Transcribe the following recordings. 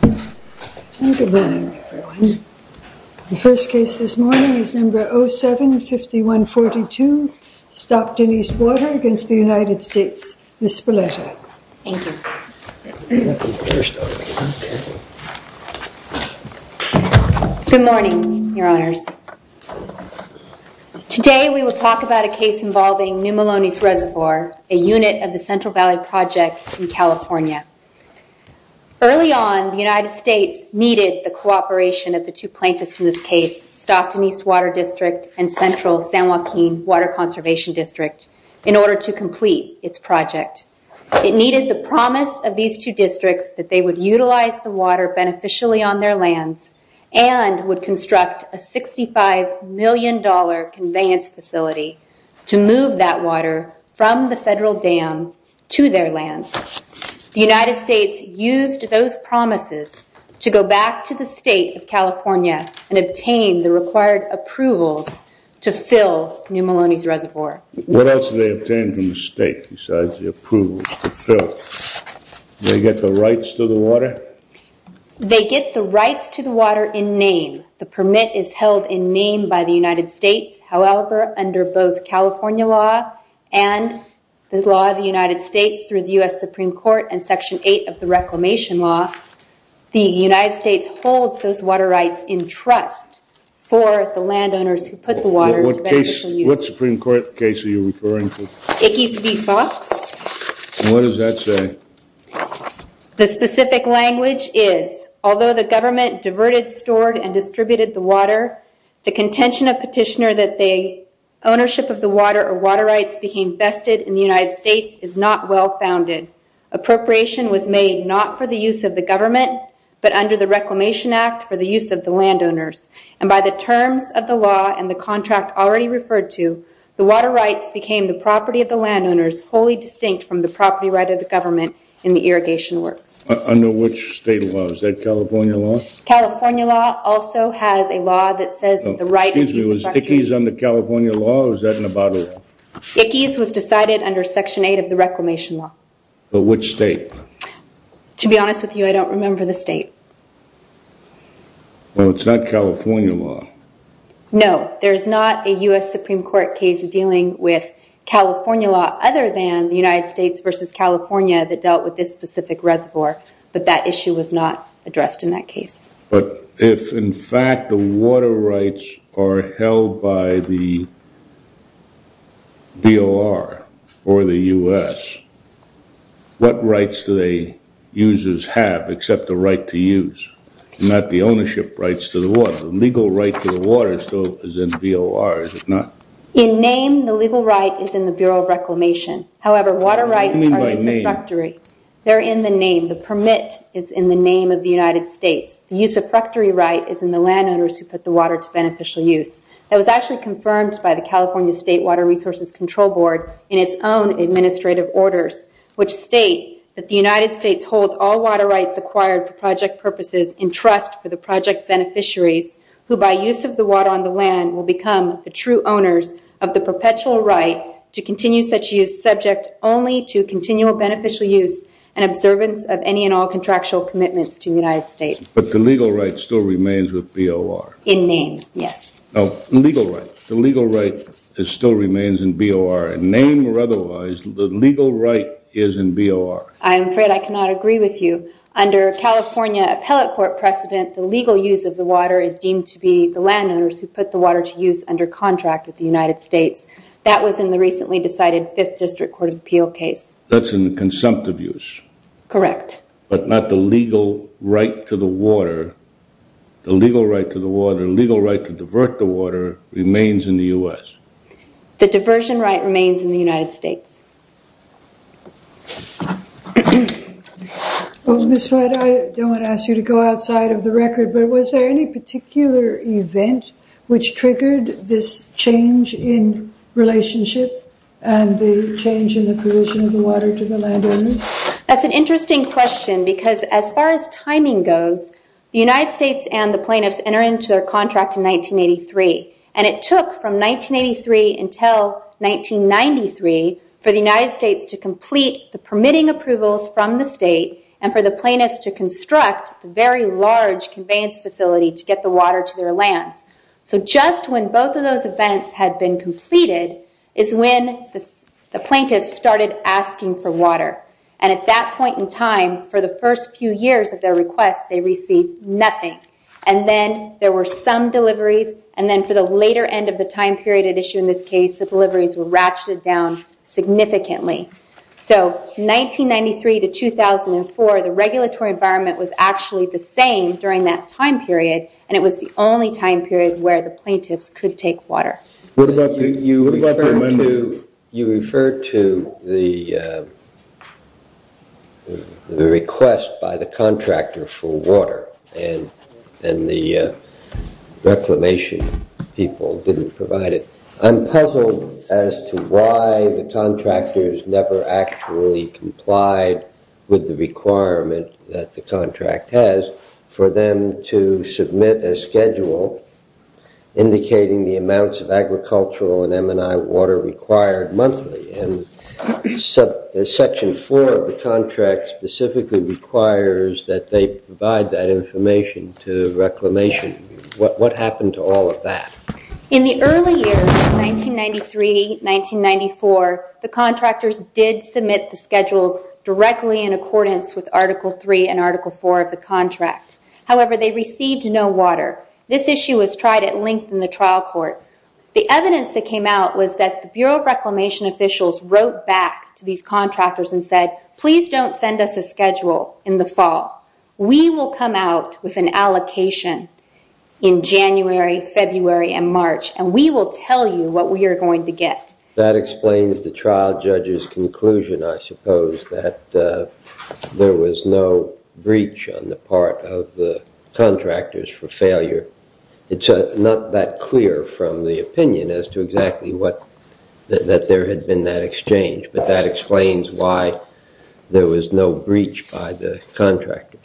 Good morning everyone. The first case this morning is number 075142, Stopped in East Water against the United States, Ms. Spalletta. Thank you. Good morning, your honors. Today we will talk about a case involving New Melones Reservoir, a unit of the Central Valley Project in California. Early on, the United States needed the cooperation of the two plaintiffs in this case, Stopped in East Water District and Central San Joaquin Water Conservation District, in order to complete its project. It needed the promise of these two districts that they would utilize the water beneficially on their lands and would construct a $65 million dollar conveyance facility to move that water from the federal dam to their lands. The United States used those promises to go back to the state of California and obtain the required approvals to fill New Melones Reservoir. What else did they obtain from the state besides the approvals to fill? Did they get the rights to the water? They get the rights to the water in name. The permit is held in name by the United States. However, under both California law and the law of the United States through the U.S. Supreme Court and Section 8 of the Reclamation Law, the United States holds those water rights in trust for the landowners who put the water to beneficial use. What Supreme Court case are you referring to? Ickes v. Fox. What does that say? The specific language is, although the government diverted, stored, and distributed the water, the contention of petitioner that the ownership of the water or water rights became vested in the United States is not well founded. Appropriation was made not for the use of the government, but under the Reclamation Act for the use of the landowners. By the terms of the law and the contract already referred to, the water rights became the property of the landowners, wholly distinct from the property right of the government in the irrigation works. Under which state law? Is that California law? California law also has a law that says that the right to use the water... Excuse me, was Ickes under California law or was that in a bottle? Ickes was decided under Section 8 of the Reclamation Law. But which state? To be honest with you, I don't remember the state. Well, it's not California law. No, there's not a US Supreme Court case dealing with California law other than the United States versus California that dealt with this specific reservoir, but that issue was not addressed in that case. But if in fact the water rights are held by the DOR or the US, what rights do the users have except the right to use, not the ownership rights to the water? The legal right to the water still is in DOR, is it not? In name, the legal right is in the Bureau of Reclamation. However, water rights are a substitutory. They're in the name. The permit is in the name of the United States. The use of fracturee right is in the landowners who put the water to beneficial use. That was actually confirmed by the California State Water Resources Control Board in its own administrative orders, which state that the United States holds all water rights acquired for project purposes in trust for the project beneficiaries, who by use of the water on the land will become the true owners of the perpetual right to continue such use subject only to continual beneficial use and observance of any and all contractual commitments to the United States. But the legal right still remains with DOR? In name, yes. The legal right still remains in DOR. In name or otherwise, the legal right is in DOR. I'm afraid I cannot agree with you. Under California Appellate Court precedent, the legal use of the water is deemed to be the landowners who put the water to use under contract with the United States. That was in the recently decided Fifth District Court of Appeal case. That's in the consumptive use. Correct. But not the legal right to the water. The legal right to the water, legal right to divert the water remains in the US. The diversion right remains in the United States. Ms. White, I don't want to ask you to go outside of the record, but was there any particular event which triggered this change in relationship and the change in the provision of the water to the landowner? That's an interesting question because as far as timing goes, the United States and the plaintiffs enter into their contract in 1983. It took from 1983 until 1993 for the United States to complete the permitting approvals from the state and for the plaintiffs to construct a very large conveyance facility to get the water to their lands. Just when both of those events had been completed is when the plaintiffs started asking for water. At that point in time, for the first few years of their request, they received nothing. And then there were some deliveries, and then for the later end of the time period at issue in this case, the deliveries were ratcheted down significantly. So 1993 to 2004, the regulatory environment was actually the same during that time period, and it was the only time period where the plaintiffs could take water. You referred to the request by the contractor for water, and the reclamation people didn't provide it. I'm puzzled as to why the contractors never actually complied with the requirement that the contract has for them to submit a schedule indicating the amounts of agricultural and M&I water required monthly. Section 4 of the contract specifically requires that they provide that information to reclamation. What happened to all of that? In the early years of 1993-1994, the contractors did submit the schedules directly in accordance with Article 3 and Article 4 of the contract. However, they received no water. This issue was tried at length in the trial court. The evidence that came out was that the Bureau of Reclamation officials wrote back to these contractors and said, please don't send us a schedule in the fall. We will come out with an allocation in January, February, and March, and we will tell you what we are going to get. That explains the trial judge's conclusion, I suppose, that there was no breach on the part of the contractors for failure. It's not that clear from the opinion as to exactly that there had been that exchange, but that explains why there was no breach by the contractors.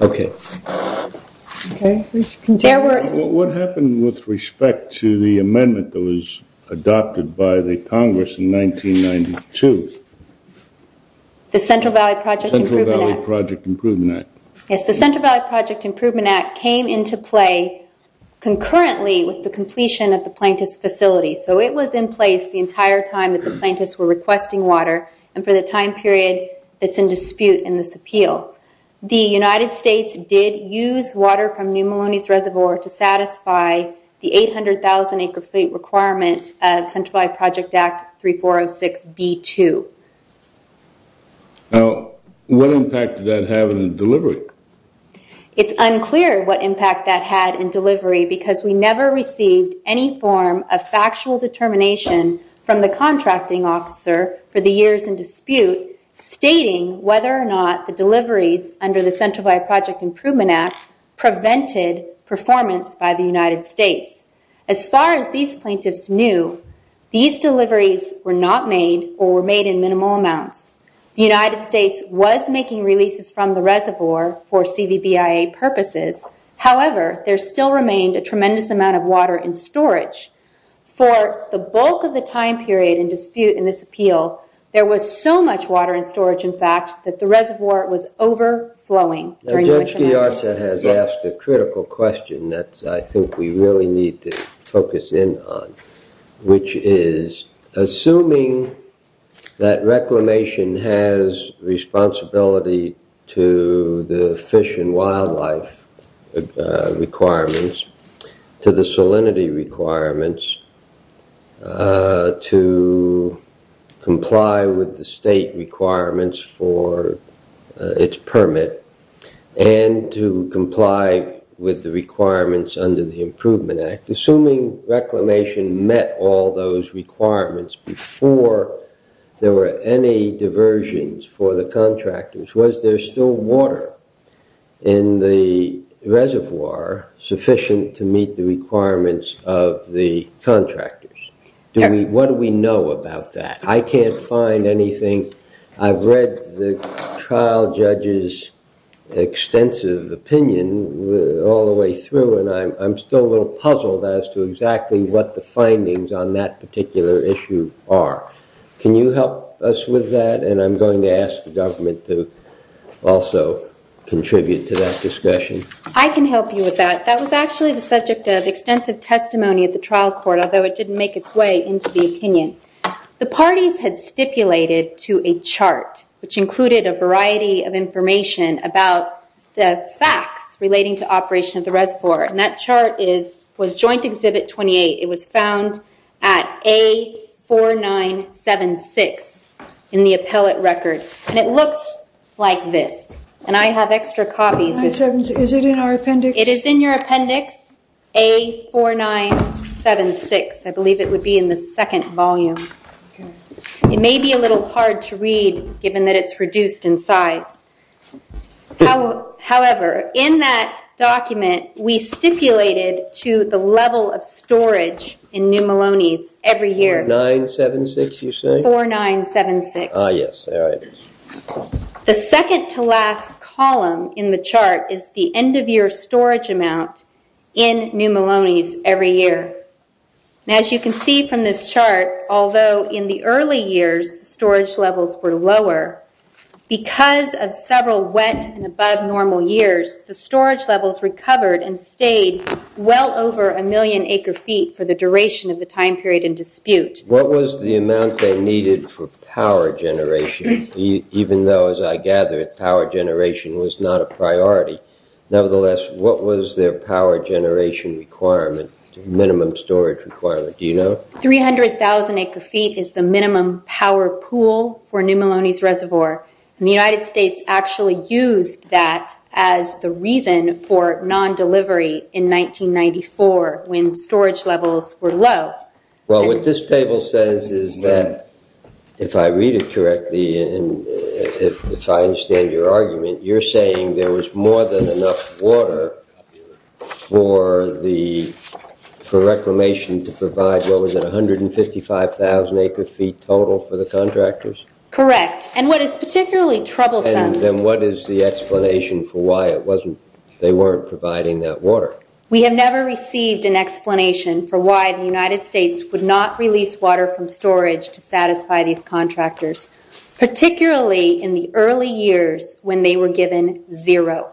Okay. What happened with respect to the amendment that was adopted by the Congress in 1992? Yes, the Central Valley Project Improvement Act came into play concurrently with the completion of the plaintiff's facility, so it was in place the entire time that the plaintiffs were requesting water and for the time period that's in dispute in this appeal. The United States did use water from New Melones Reservoir to satisfy the 800,000-acre fleet requirement of Central Valley Project Act 3406B2. What impact did that have in the delivery? It's unclear what impact that had in delivery because we never received any form of factual determination from the contracting officer for the years in dispute stating whether or not the deliveries under the Central Valley Project Improvement Act prevented performance by the United States. As far as these plaintiffs knew, these deliveries were not made or were made in minimal amounts. The United States was making releases from the reservoir for CVBIA purposes. However, there still remained a tremendous amount of water in storage. For the bulk of the time period in dispute in this appeal, there was so much water in storage, in fact, that the reservoir was overflowing. Judge Ghiarsa has asked a critical question that I think we really need to focus in on, which is, assuming that reclamation has responsibility to the fish and wildlife requirements, to the salinity requirements, to comply with the state requirements for its permit, and to comply with the requirements under the Improvement Act, assuming reclamation met all those requirements before there were any diversions for the contractors, was there still water in the reservoir sufficient to meet the requirements of the contractors? What do we know about that? I can't find anything. I've read the trial judge's extensive opinion all the way through, and I'm still a little puzzled as to exactly what the findings on that particular issue are. Can you help us with that? And I'm going to ask the government to also contribute to that discussion. I can help you with that. That was actually the subject of extensive testimony at the trial court, although it didn't make its way into the opinion. The parties had stipulated to a chart, which included a variety of information about the facts relating to operation of the reservoir. And that chart was Joint Exhibit 28. It was found at A4976 in the appellate record. And it looks like this. And I have extra copies. Is it in our appendix? It is in your appendix, A4976. I believe it would be in the second volume. It may be a little hard to read, given that it's reduced in size. However, in that document, we stipulated to the level of storage in New Maloney's every year. 976, you say? 4976. Ah, yes. All right. The second-to-last column in the chart is the end-of-year storage amount in New Maloney's every year. As you can see from this chart, although in the early years, storage levels were lower, because of several wet and above-normal years, the storage levels recovered and stayed well over a million acre-feet for the duration of the time period in dispute. What was the amount they needed for power generation, even though, as I gather, power generation was not a priority? Nevertheless, what was their power generation requirement, minimum storage requirement? Do you know? 300,000 acre-feet is the minimum power pool for New Maloney's reservoir, and the United States actually used that as the reason for non-delivery in 1994, when storage levels were low. Well, what this table says is that, if I read it correctly and if I understand your argument, you're saying there was more than enough water for Reclamation to provide, what was it, 155,000 acre-feet total for the contractors? Correct. And what is particularly troublesome— And then what is the explanation for why they weren't providing that water? We have never received an explanation for why the United States would not release water from storage to satisfy these contractors, particularly in the early years when they were given zero.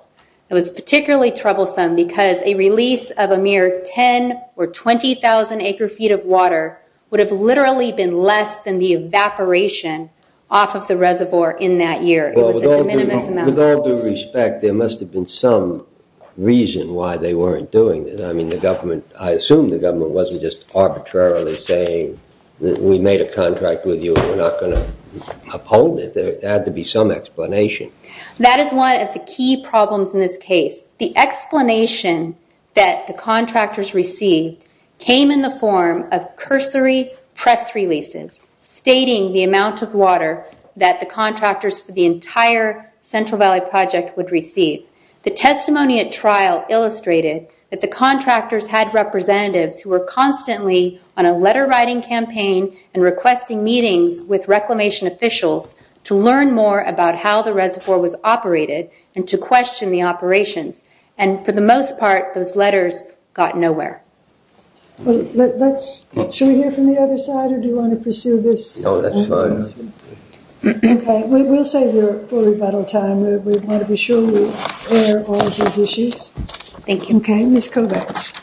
It was particularly troublesome because a release of a mere 10 or 20,000 acre-feet of water would have literally been less than the evaporation off of the reservoir in that year. It was a de minimis amount. Well, with all due respect, there must have been some reason why they weren't doing it. I assume the government wasn't just arbitrarily saying, we made a contract with you and we're not going to uphold it. There had to be some explanation. That is one of the key problems in this case. The explanation that the contractors received came in the form of cursory press releases stating the amount of water that the contractors for the entire Central Valley Project would receive. The testimony at trial illustrated that the contractors had representatives who were constantly on a letter-writing campaign and requesting meetings with reclamation officials to learn more about how the reservoir was operated and to question the operations. And for the most part, those letters got nowhere. Should we hear from the other side or do you want to pursue this? No, that's fine. Okay, we'll save you for rebuttal time. We want to be sure we hear all of his issues. Thank you. Okay, Ms. Kovacs.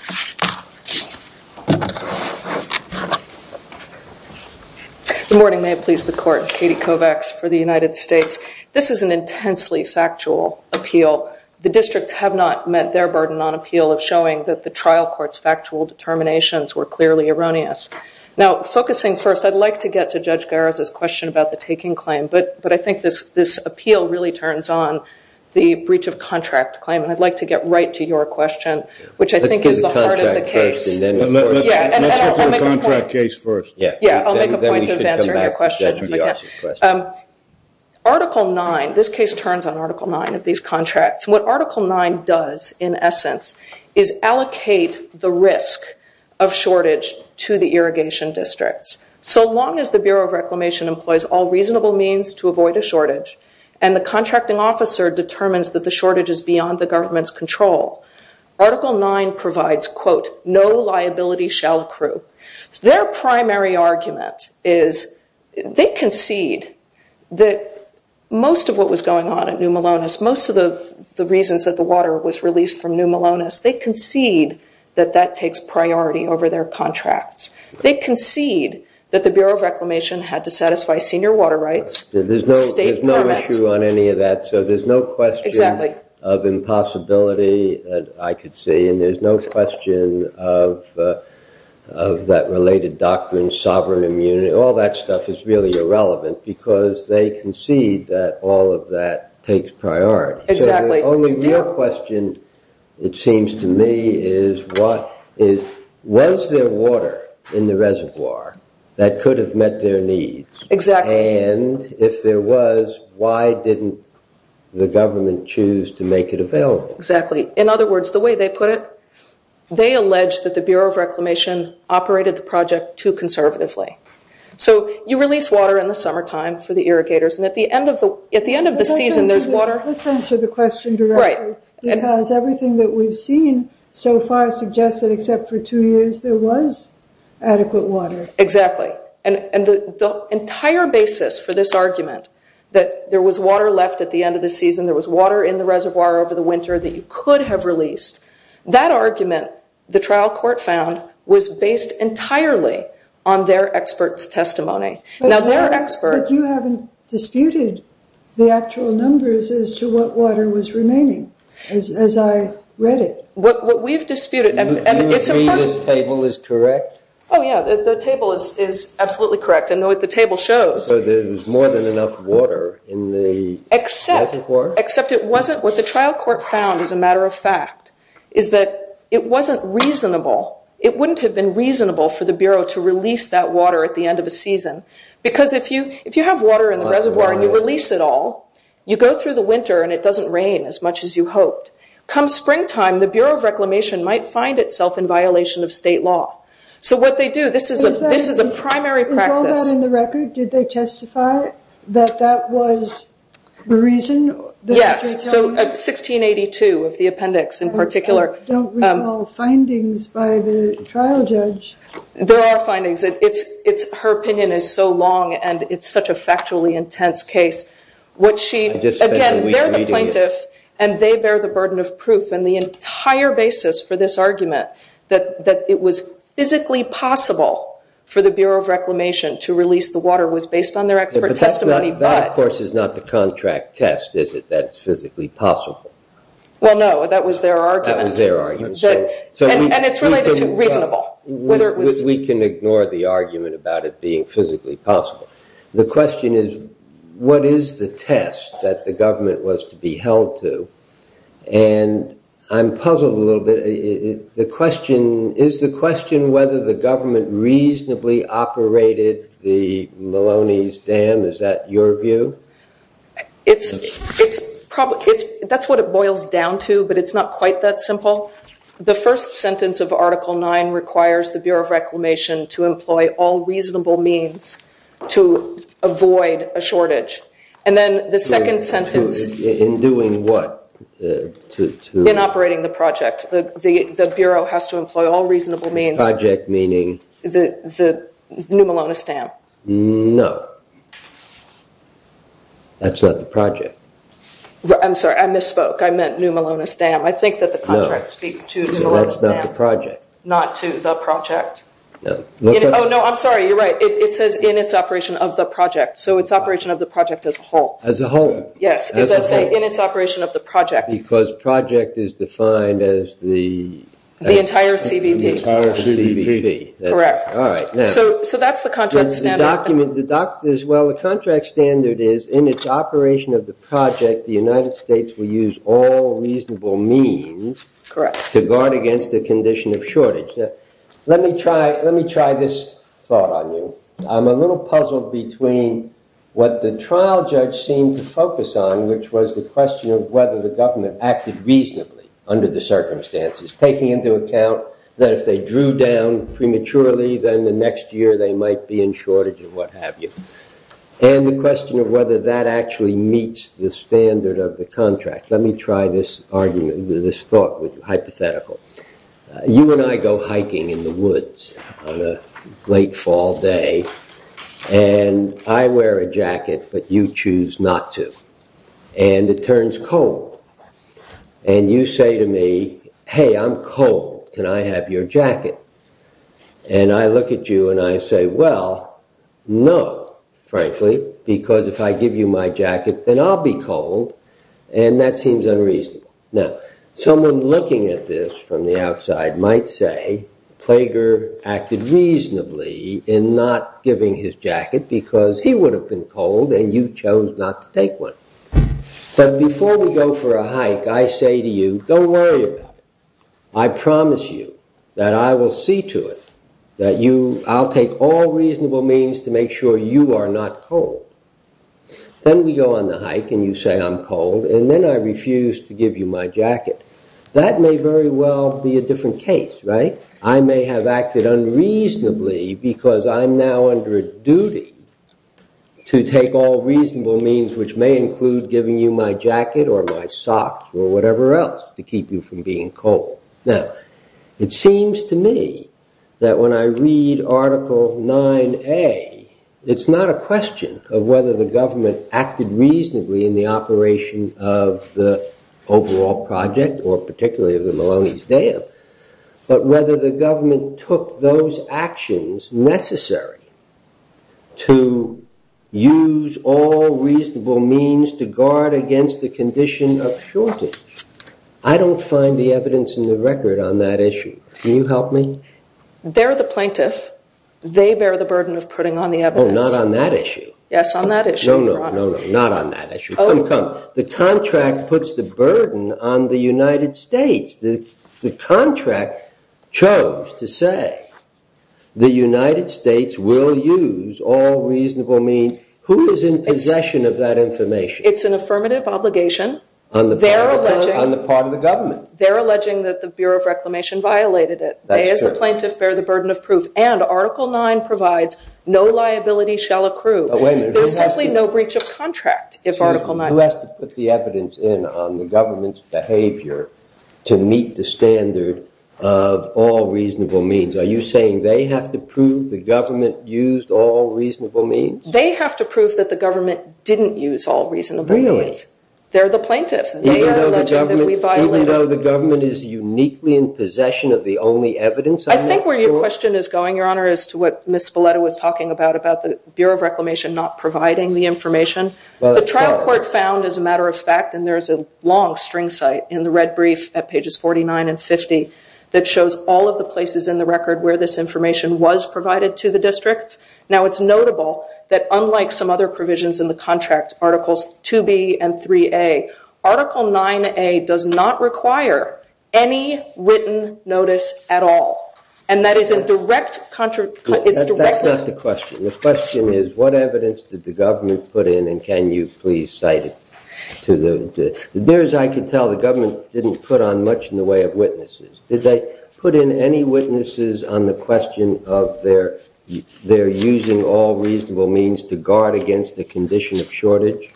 Good morning. May it please the Court. Katie Kovacs for the United States. This is an intensely factual appeal. The districts have not met their burden on appeal of showing that the trial court's factual determinations were clearly erroneous. Now, focusing first, I'd like to get to Judge Garris' question about the taking claim, but I think this appeal really turns on the breach of contract claim, and I'd like to get right to your question, which I think is the heart of the case. Let's get to the contract case first. Yeah, I'll make a point of answering your question. Article 9, this case turns on Article 9 of these contracts. What Article 9 does, in essence, is allocate the risk of shortage to the irrigation districts. So long as the Bureau of Reclamation employs all reasonable means to avoid a shortage, and the contracting officer determines that the shortage is beyond the government's control, Article 9 provides, quote, no liability shall accrue. Their primary argument is they concede that most of what was going on at New Melones, most of the reasons that the water was released from New Melones, they concede that that takes priority over their contracts. They concede that the Bureau of Reclamation had to satisfy senior water rights. There's no issue on any of that, so there's no question of impossibility, I could say, and there's no question of that related doctrine, sovereign immunity. All that stuff is really irrelevant because they concede that all of that takes priority. Exactly. The only real question, it seems to me, is was there water in the reservoir that could have met their needs? Exactly. And if there was, why didn't the government choose to make it available? Exactly. In other words, the way they put it, they allege that the Bureau of Reclamation operated the project too conservatively. So you release water in the summertime for the irrigators, and at the end of the season there's water. Let's answer the question directly because everything that we've seen so far suggests that except for two years, there was adequate water. Exactly. And the entire basis for this argument, that there was water left at the end of the season, there was water in the reservoir over the winter that you could have released, that argument, the trial court found, was based entirely on their expert's testimony. Now, their expert- But you haven't disputed the actual numbers as to what water was remaining, as I read it. What we've disputed- Do you agree this table is correct? Oh, yeah, the table is absolutely correct. I know what the table shows. So there was more than enough water in the reservoir? Except it wasn't. What the trial court found, as a matter of fact, is that it wasn't reasonable, it wouldn't have been reasonable for the Bureau to release that water at the end of the season. Because if you have water in the reservoir and you release it all, you go through the winter and it doesn't rain as much as you hoped. Come springtime, the Bureau of Reclamation might find itself in violation of state law. So what they do, this is a primary practice- Yes, so 1682 of the appendix, in particular- I don't recall findings by the trial judge. There are findings. Her opinion is so long and it's such a factually intense case. Again, they're the plaintiff and they bear the burden of proof, and the entire basis for this argument that it was physically possible for the Bureau of Reclamation to release the water was based on their expert testimony, but- Well, no, that was their argument. That was their argument. And it's really reasonable, whether it was- We can ignore the argument about it being physically possible. The question is, what is the test that the government was to be held to? And I'm puzzled a little bit. Is the question whether the government reasonably operated the Maloney's Dam? Is that your view? That's what it boils down to, but it's not quite that simple. The first sentence of Article 9 requires the Bureau of Reclamation to employ all reasonable means to avoid a shortage. And then the second sentence- In doing what? In operating the project. The Bureau has to employ all reasonable means- Project meaning? The new Maloney's Dam. No. That's not the project. I'm sorry, I misspoke. I meant new Maloney's Dam. I think that the contract speaks to the Maloney's Dam. That's not the project. Not to the project. Oh, no, I'm sorry, you're right. It says in its operation of the project. So it's operation of the project as a whole. As a whole. Yes, it does say in its operation of the project. Because project is defined as the- The entire CBP. The entire CBP. Correct. All right, now- So that's the contract standard. Well, the contract standard is in its operation of the project, the United States will use all reasonable means- Correct. To guard against a condition of shortage. Let me try this thought on you. I'm a little puzzled between what the trial judge seemed to focus on, which was the question of whether the government acted reasonably under the circumstances. Taking into account that if they drew down prematurely, then the next year they might be in shortage and what have you. And the question of whether that actually meets the standard of the contract. Let me try this argument, this thought hypothetical. You and I go hiking in the woods on a late fall day. And I wear a jacket, but you choose not to. And it turns cold. And you say to me, hey, I'm cold. Can I have your jacket? And I look at you and I say, well, no, frankly, because if I give you my jacket, then I'll be cold. And that seems unreasonable. Now, someone looking at this from the outside might say, Plager acted reasonably in not giving his jacket because he would have been cold and you chose not to take one. But before we go for a hike, I say to you, don't worry about it. I promise you that I will see to it that I'll take all reasonable means to make sure you are not cold. Then we go on the hike and you say I'm cold. And then I refuse to give you my jacket. That may very well be a different case, right? I may have acted unreasonably because I'm now under a duty to take all reasonable means, which may include giving you my jacket or my socks or whatever else to keep you from being cold. Now, it seems to me that when I read Article 9A, it's not a question of whether the government acted reasonably in the operation of the overall project or particularly of the Maloney's Dam. But whether the government took those actions necessary to use all reasonable means to guard against the condition of shortage. I don't find the evidence in the record on that issue. Can you help me? They're the plaintiff. They bear the burden of putting on the evidence. Oh, not on that issue. Yes, on that issue, Your Honor. Not on that issue. Come, come. The contract puts the burden on the United States. The contract chose to say the United States will use all reasonable means. Who is in possession of that information? It's an affirmative obligation. On the part of the government. They're alleging that the Bureau of Reclamation violated it. They, as the plaintiff, bear the burden of proof. And Article 9 provides no liability shall accrue. There's simply no breach of contract if Article 9. Who has to put the evidence in on the government's behavior to meet the standard of all reasonable means? Are you saying they have to prove the government used all reasonable means? They have to prove that the government didn't use all reasonable means. Really? They're the plaintiff. They are alleging that we violated. Even though the government is uniquely in possession of the only evidence on that court? I think where your question is going, Your Honor, is to what Ms. Spoleto was talking about, about the Bureau of Reclamation not providing the information. The trial court found, as a matter of fact, and there is a long string site in the red brief at pages 49 and 50, that shows all of the places in the record where this information was provided to the districts. Now, it's notable that unlike some other provisions in the contract, Articles 2B and 3A, Article 9A does not require any written notice at all. And that is a direct contradiction. That's not the question. The question is, what evidence did the government put in, and can you please cite it? As near as I can tell, the government didn't put on much in the way of witnesses. Did they put in any witnesses on the question of their using all reasonable means to guard against a condition of shortage?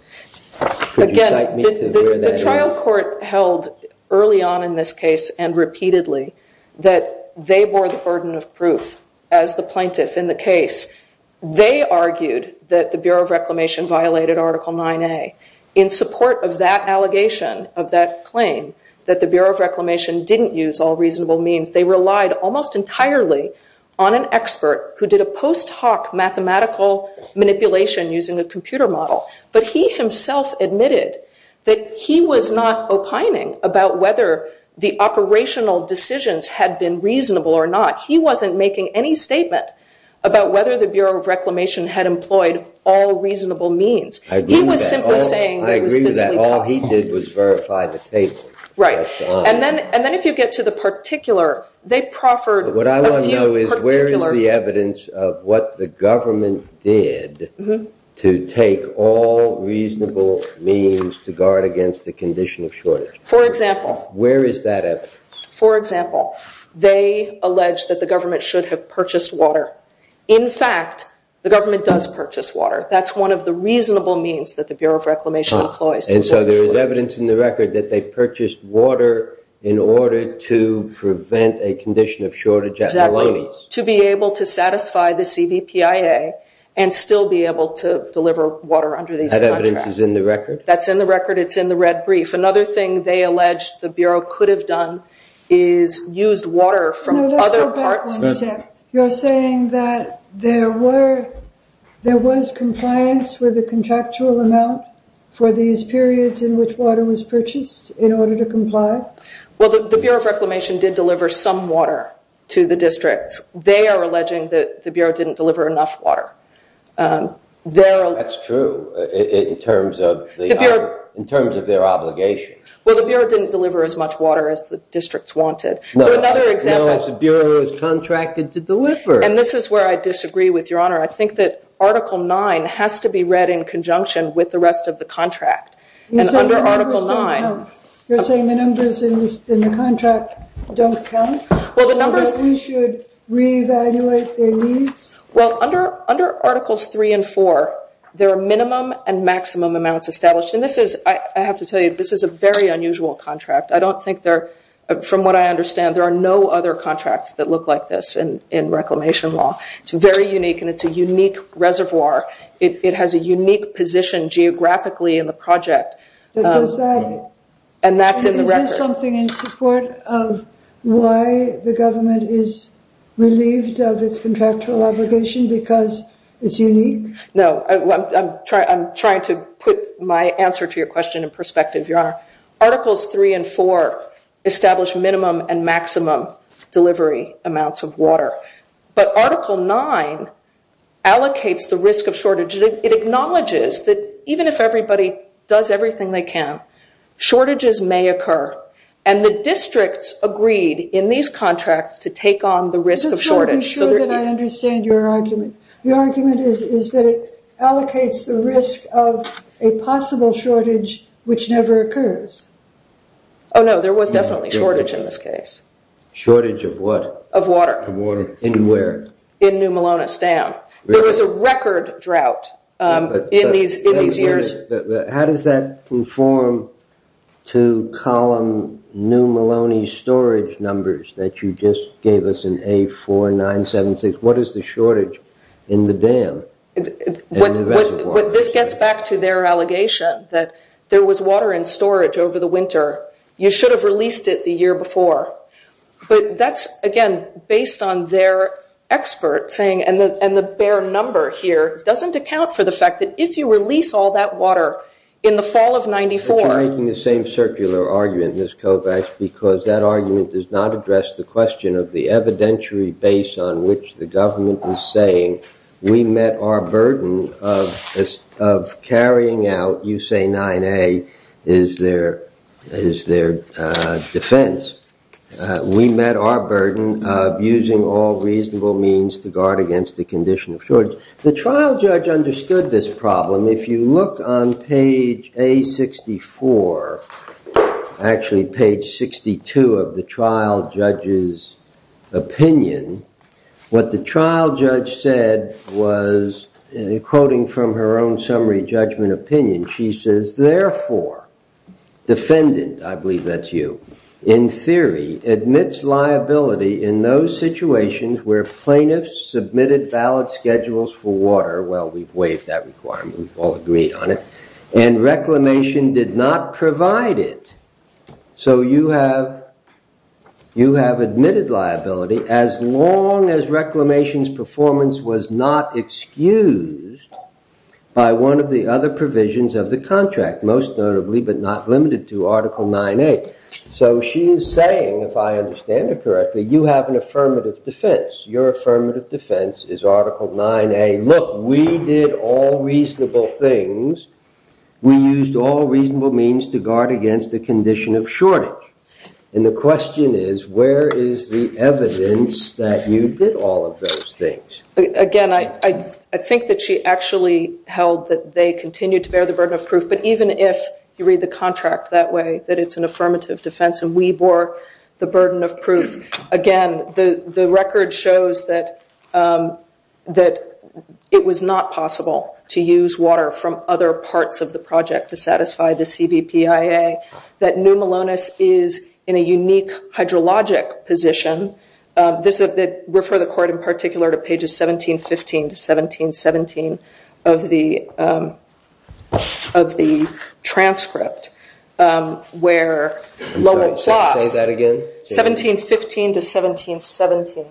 Could you cite me to where that is? Again, the trial court held early on in this case and repeatedly that they bore the burden of proof as the plaintiff. In the case, they argued that the Bureau of Reclamation violated Article 9A. In support of that allegation, of that claim, that the Bureau of Reclamation didn't use all reasonable means, they relied almost entirely on an expert who did a post hoc mathematical manipulation using a computer model. But he himself admitted that he was not opining about whether the operational decisions had been reasonable or not. He wasn't making any statement about whether the Bureau of Reclamation had employed all reasonable means. He was simply saying that it was physically possible. I agree with that. All he did was verify the tables. Right. And then if you get to the particular, they proffered a few particular- What I want to know is where is the evidence of what the government did to take all reasonable means to guard against a condition of shortage? For example. Where is that evidence? For example, they alleged that the government should have purchased water. In fact, the government does purchase water. That's one of the reasonable means that the Bureau of Reclamation employs. And so there is evidence in the record that they purchased water in order to prevent a condition of shortage at Maloney's. Exactly. To be able to satisfy the CBPIA and still be able to deliver water under these contracts. That evidence is in the record? That's in the record. It's in the red brief. Another thing they alleged the Bureau could have done is used water from other parts- No, let's go back one step. You're saying that there was compliance with the contractual amount for these periods in which water was purchased in order to comply? Well, the Bureau of Reclamation did deliver some water to the districts. They are alleging that the Bureau didn't deliver enough water. That's true. In terms of their obligation. Well, the Bureau didn't deliver as much water as the districts wanted. So another example- No, it's the Bureau's contract is to deliver. And this is where I disagree with your honor. I think that Article 9 has to be read in conjunction with the rest of the contract. And under Article 9- You're saying the numbers in the contract don't count? We should reevaluate their needs? Well, under Articles 3 and 4, there are minimum and maximum amounts established. And I have to tell you, this is a very unusual contract. From what I understand, there are no other contracts that look like this in reclamation law. It's very unique, and it's a unique reservoir. It has a unique position geographically in the project. And that's in the record. Is there something in support of why the government is relieved of its contractual obligation? Because it's unique? No, I'm trying to put my answer to your question in perspective, your honor. Articles 3 and 4 establish minimum and maximum delivery amounts of water. But Article 9 allocates the risk of shortage. It acknowledges that even if everybody does everything they can, shortages may occur. And the districts agreed in these contracts to take on the risk of shortage. Just to be sure that I understand your argument. Your argument is that it allocates the risk of a possible shortage, which never occurs. Oh, no, there was definitely shortage in this case. Shortage of what? Of water. Of water. In where? In New Malonestown. There was a record drought in these years. How does that conform to column New Maloney storage numbers that you just gave us in A4976? What is the shortage in the dam? This gets back to their allegation that there was water in storage over the winter. You should have released it the year before. But that's, again, based on their expert saying, and the bare number here doesn't account for the fact that if you release all that water in the fall of 94. You're making the same circular argument, Ms. Kovacs, because that argument does not address the question of the evidentiary base on which the government is saying, we met our burden of carrying out, you say, 9A is their defense. We met our burden of using all reasonable means to guard against the condition of shortage. The trial judge understood this problem. If you look on page A64, actually page 62 of the trial judge's opinion, what the trial judge said was, quoting from her own summary judgment opinion, she says, defendant, I believe that's you, in theory, admits liability in those situations where plaintiffs submitted valid schedules for water. Well, we've waived that requirement. We've all agreed on it. And reclamation did not provide it. So you have admitted liability as long as reclamation's performance was not excused by one of the other provisions of the contract, most notably, but not limited to, Article 9A. So she is saying, if I understand it correctly, you have an affirmative defense. Your affirmative defense is Article 9A. Look, we did all reasonable things. We used all reasonable means to guard against the condition of shortage. And the question is, where is the evidence that you did all of those things? Again, I think that she actually held that they continued to bear the burden of proof. But even if you read the contract that way, that it's an affirmative defense and we bore the burden of proof, again, the record shows that it was not possible to use water from other parts of the project to satisfy the CVPIA, that New Malonis is in a unique hydrologic position. Refer the court, in particular, to pages 1715 to 1717 of the transcript, where Lowell Ploss— Say that again? 1715 to 1717,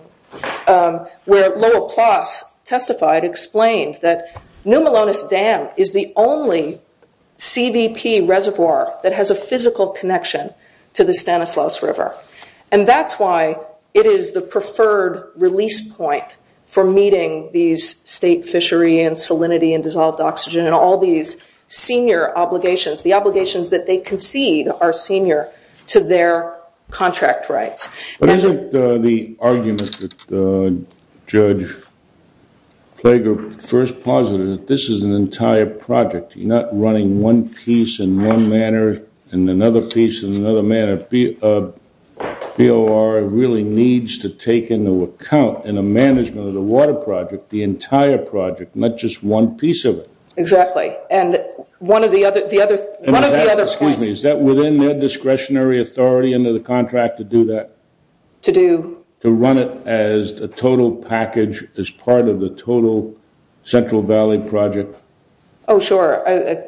where Lowell Ploss testified, explained that New Malonis Dam is the only CVP reservoir that has a physical connection to the Stanislaus River. And that's why it is the preferred release point for meeting these state fishery and salinity and dissolved oxygen and all these senior obligations. The obligations that they concede are senior to their contract rights. But isn't the argument that Judge Plager first posited that this is an entire project? You're not running one piece in one manner and another piece in another manner. BOR really needs to take into account, in the management of the water project, the entire project, not just one piece of it. Exactly. And one of the other points— Excuse me, is that within their discretionary authority under the contract to do that? To do? To run it as a total package, as part of the total Central Valley project? Oh, sure. I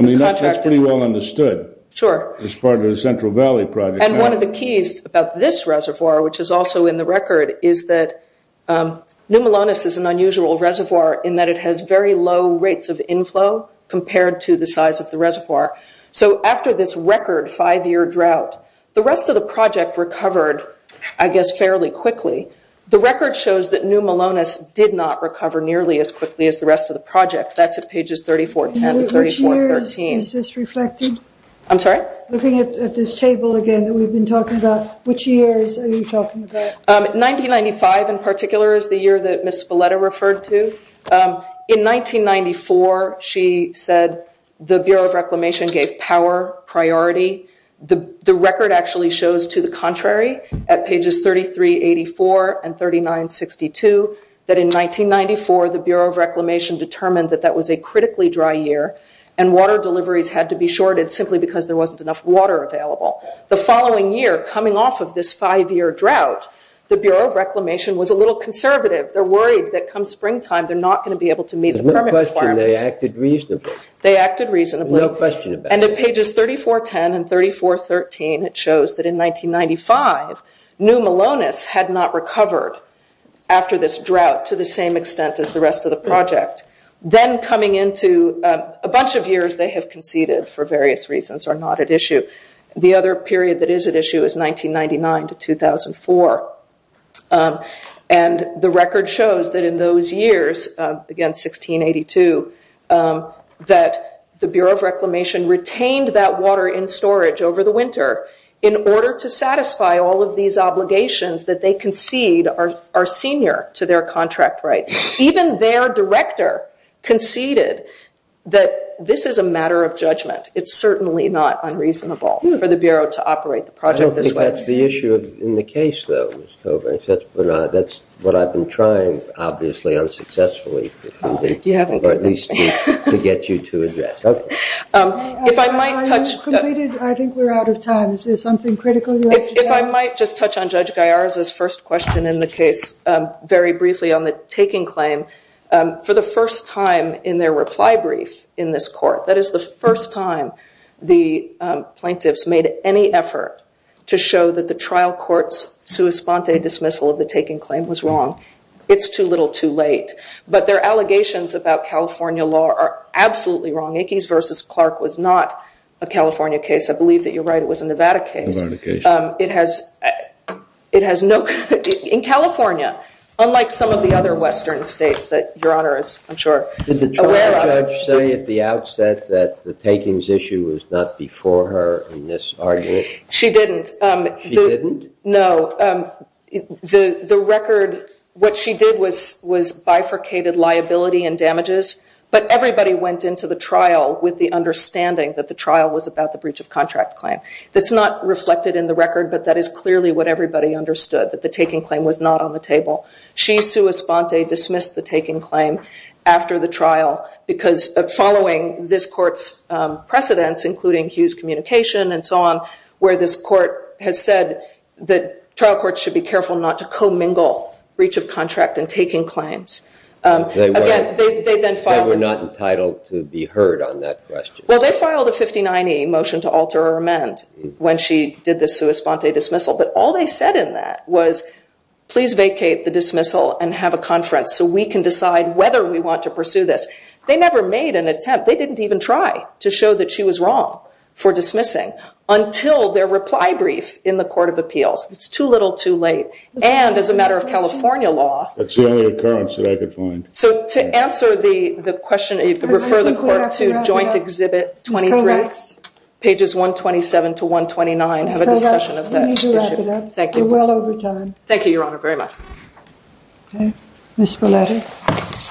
mean, that's pretty well understood. Sure. As part of the Central Valley project. And one of the keys about this reservoir, which is also in the record, is that New Malonis is an unusual reservoir in that it has very low rates of inflow compared to the size of the reservoir. So after this record five-year drought, the rest of the project recovered, I guess, fairly quickly. The record shows that New Malonis did not recover nearly as quickly as the rest of the project. That's at pages 3410, 3413. Which years is this reflected? I'm sorry? Looking at this table again that we've been talking about, which years are you talking about? 1995, in particular, is the year that Ms. Spalletta referred to. In 1994, she said the Bureau of Reclamation gave power priority. The record actually shows to the contrary, at pages 3384 and 3962, that in 1994 the Bureau of Reclamation determined that that was a critically dry year and water deliveries had to be shorted simply because there wasn't enough water available. The following year, coming off of this five-year drought, the Bureau of Reclamation was a little conservative. They're worried that come springtime they're not going to be able to meet the permit requirements. There's no question they acted reasonably. They acted reasonably. No question about it. At pages 3410 and 3413, it shows that in 1995, New Melones had not recovered after this drought to the same extent as the rest of the project. Then coming into a bunch of years they have conceded for various reasons are not at issue. The other period that is at issue is 1999 to 2004. The record shows that in those years, again 1682, that the Bureau of Reclamation retained that water in storage over the winter in order to satisfy all of these obligations that they concede are senior to their contract right. Even their director conceded that this is a matter of judgment. It's certainly not unreasonable for the Bureau to operate the project this way. That's the issue in the case, though. That's what I've been trying, obviously, unsuccessfully to get you to address. Okay. If I might touch- I think we're out of time. Is there something critical you'd like to add? If I might just touch on Judge Gallar's first question in the case very briefly on the taking claim. For the first time in their reply brief in this court, that is the first time the plaintiffs made any effort to show that the trial court's sua sponte dismissal of the taking claim was wrong. It's too little too late. But their allegations about California law are absolutely wrong. Ickes v. Clark was not a California case. I believe that you're right. It was a Nevada case. Nevada case. It has no- Did the trial judge say at the outset that the takings issue was not before her in this argument? She didn't. She didn't? No. The record, what she did was bifurcated liability and damages. But everybody went into the trial with the understanding that the trial was about the breach of contract claim. That's not reflected in the record, but that is clearly what everybody understood, that the taking claim was not on the table. She sua sponte dismissed the taking claim after the trial following this court's precedence, including Hughes Communication and so on, where this court has said that trial courts should be careful not to commingle breach of contract and taking claims. They were not entitled to be heard on that question. Well, they filed a 59E motion to alter or amend when she did the sua sponte dismissal. But all they said in that was, please vacate the dismissal and have a conference so we can decide whether we want to pursue this. They never made an attempt. They didn't even try to show that she was wrong for dismissing until their reply brief in the Court of Appeals. It's too little, too late. And as a matter of California law- That's the only occurrence that I could find. So to answer the question, refer the court to Joint Exhibit 23, pages 127 to 129, have a discussion of that issue. Thank you. Thank you, Your Honor, very much. Ms. Belletti.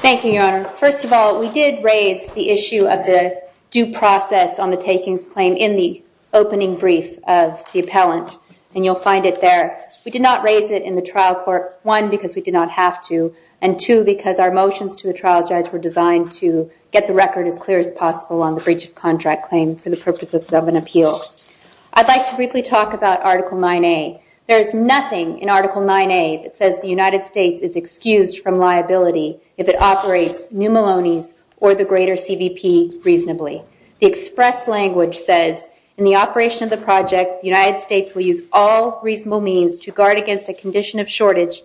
Thank you, Your Honor. First of all, we did raise the issue of the due process on the takings claim in the opening brief of the appellant, and you'll find it there. We did not raise it in the trial court, one, because we did not have to, and two, because our motions to the trial judge were designed to get the record as clear as possible on the breach of contract claim for the purposes of an appeal. I'd like to briefly talk about Article 9A. There is nothing in Article 9A that says the United States is excused from liability if it operates New Maloney's or the greater CVP reasonably. The express language says, in the operation of the project, the United States will use all reasonable means to guard against a condition of shortage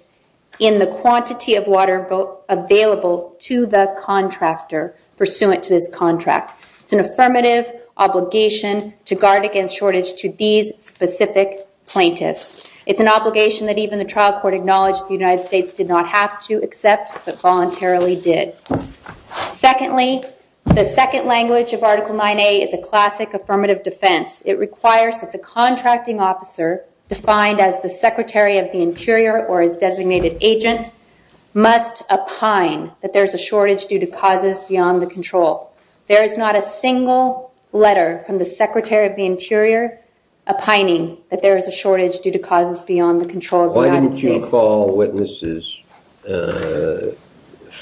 in the quantity of water available to the contractor pursuant to this contract. It's an affirmative obligation to guard against shortage to these specific plaintiffs. It's an obligation that even the trial court acknowledged the United States did not have to accept, but voluntarily did. Secondly, the second language of Article 9A is a classic affirmative defense. It requires that the contracting officer, defined as the secretary of the interior or his designated agent, must opine that there is a shortage due to causes beyond the control. There is not a single letter from the secretary of the interior opining that there is a shortage due to causes beyond the control of the United States. Why didn't you call witnesses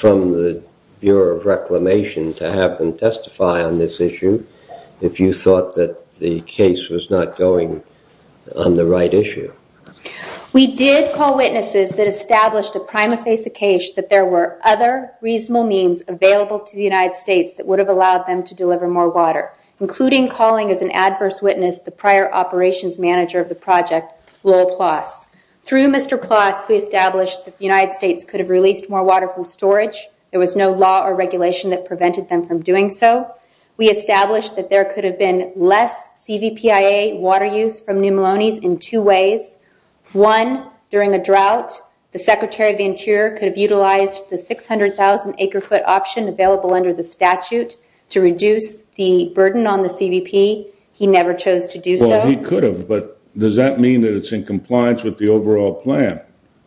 from the Bureau of Reclamation to have them testify on this issue if you thought that the case was not going on the right issue? We did call witnesses that established a prima facie case that there were other reasonable means available to the United States that would have allowed them to deliver more water, including calling as an adverse witness the prior operations manager of the project, Lowell Ploss. Through Mr. Ploss, we established that the United States could have released more water from storage. There was no law or regulation that prevented them from doing so. We established that there could have been less CVPIA water use from New Melones in two ways. One, during a drought, the secretary of the interior could have utilized the 600,000-acre-foot option available under the statute to reduce the burden on the CVP. He never chose to do so. Well, he could have, but does that mean that it's in compliance with the overall plan,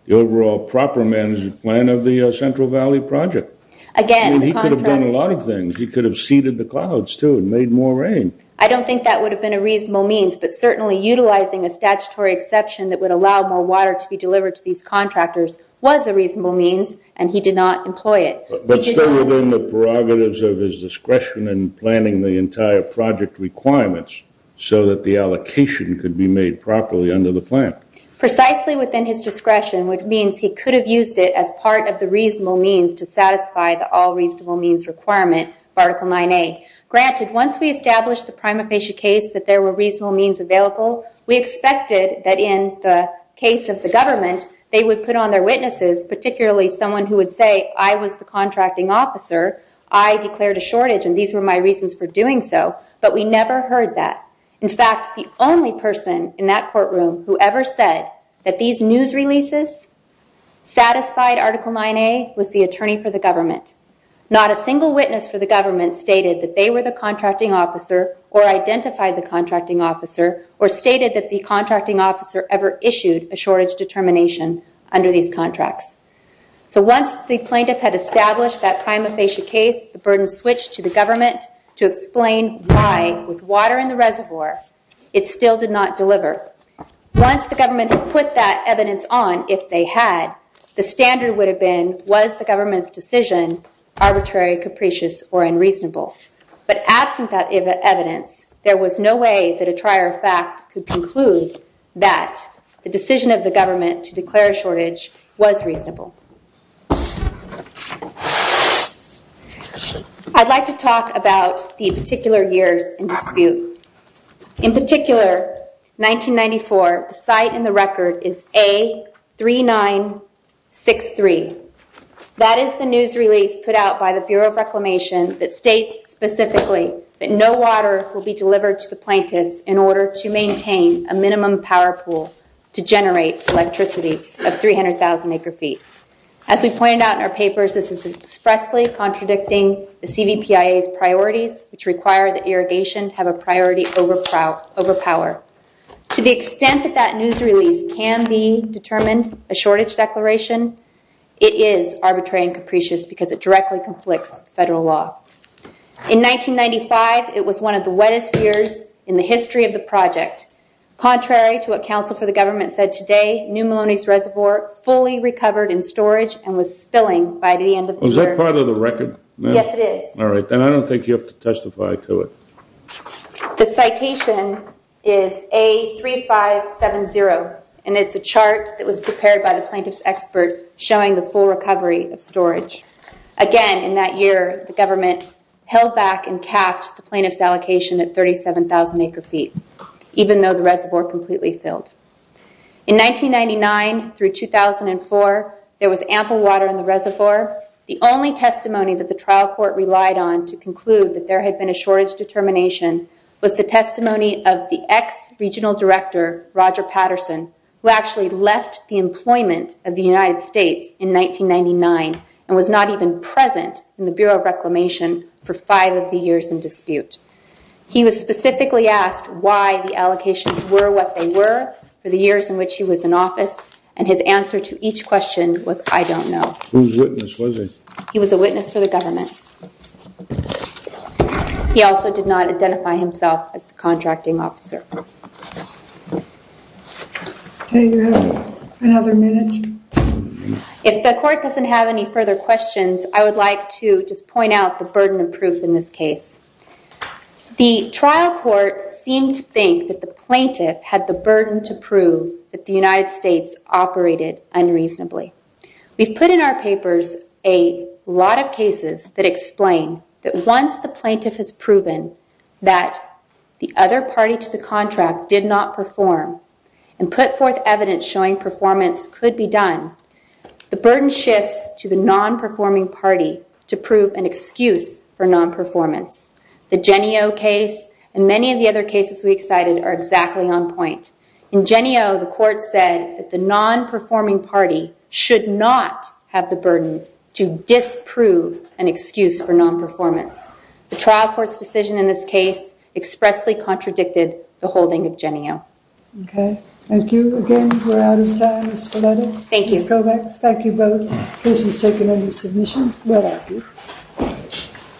the overall proper management plan of the Central Valley Project? I mean, he could have done a lot of things. He could have seeded the clouds, too, and made more rain. I don't think that would have been a reasonable means, but certainly utilizing a statutory exception that would allow more water to be delivered to these contractors was a reasonable means, and he did not employ it. But still within the prerogatives of his discretion in planning the entire project requirements so that the allocation could be made properly under the plan. Precisely within his discretion, which means he could have used it as part of the reasonable means to satisfy the all reasonable means requirement of Article 9A. Granted, once we established the prima facie case that there were reasonable means available, we expected that in the case of the government they would put on their witnesses, particularly someone who would say, I was the contracting officer, I declared a shortage, and these were my reasons for doing so, but we never heard that. In fact, the only person in that courtroom who ever said that these news releases satisfied Article 9A was the attorney for the government. Not a single witness for the government stated that they were the contracting officer or identified the contracting officer or stated that the contracting officer ever issued a shortage determination under these contracts. So once the plaintiff had established that prima facie case, the burden switched to the government to explain why, with water in the reservoir, it still did not deliver. Once the government had put that evidence on, if they had, the standard would have been, was the government's decision arbitrary, capricious, or unreasonable? But absent that evidence, there was no way that a trier of fact could conclude that the decision of the government to declare a shortage was reasonable. I'd like to talk about the particular years in dispute. In particular, 1994, the site in the record is A3963. That is the news release put out by the Bureau of Reclamation that states specifically that no water will be delivered to the plaintiffs in order to maintain a minimum power pool to generate electricity of 300,000 acre feet. As we pointed out in our papers, this is expressly contradicting the CVPIA's priorities, which require that irrigation have a priority over power. To the extent that that news release can be determined a shortage declaration, it is arbitrary and capricious because it directly conflicts with federal law. In 1995, it was one of the wettest years in the history of the project. Contrary to what counsel for the government said today, New Melones Reservoir fully recovered in storage and was spilling by the end of the year. Is that part of the record? Yes, it is. All right, then I don't think you have to testify to it. The citation is A3570, and it's a chart that was prepared by the plaintiff's expert showing the full recovery of storage. Again, in that year, the government held back and capped the plaintiff's allocation at 37,000 acre feet, even though the reservoir completely filled. In 1999 through 2004, there was ample water in the reservoir. The only testimony that the trial court relied on to conclude that there had been a shortage determination was the testimony of the ex-regional director, Roger Patterson, who actually left the employment of the United States in 1999 and was not even present in the Bureau of Reclamation for five of the years in dispute. He was specifically asked why the allocations were what they were for the years in which he was in office, and his answer to each question was, I don't know. Whose witness was he? He was a witness for the government. He also did not identify himself as the contracting officer. Okay, you have another minute. If the court doesn't have any further questions, I would like to just point out the burden of proof in this case. The trial court seemed to think that the plaintiff had the burden to prove that the United States operated unreasonably. We've put in our papers a lot of cases that explain that once the plaintiff has proven that the other party to the contract did not perform and put forth evidence showing performance could be done, the burden shifts to the non-performing party to prove an excuse for non-performance. The Genio case and many of the other cases we cited are exactly on point. In Genio, the court said that the non-performing party should not have the burden to disprove an excuse for non-performance. The trial court's decision in this case expressly contradicted the holding of Genio. Okay, thank you. Again, we're out of time. Ms. Kovacs, thank you both. Questions taken under submission? Well, thank you.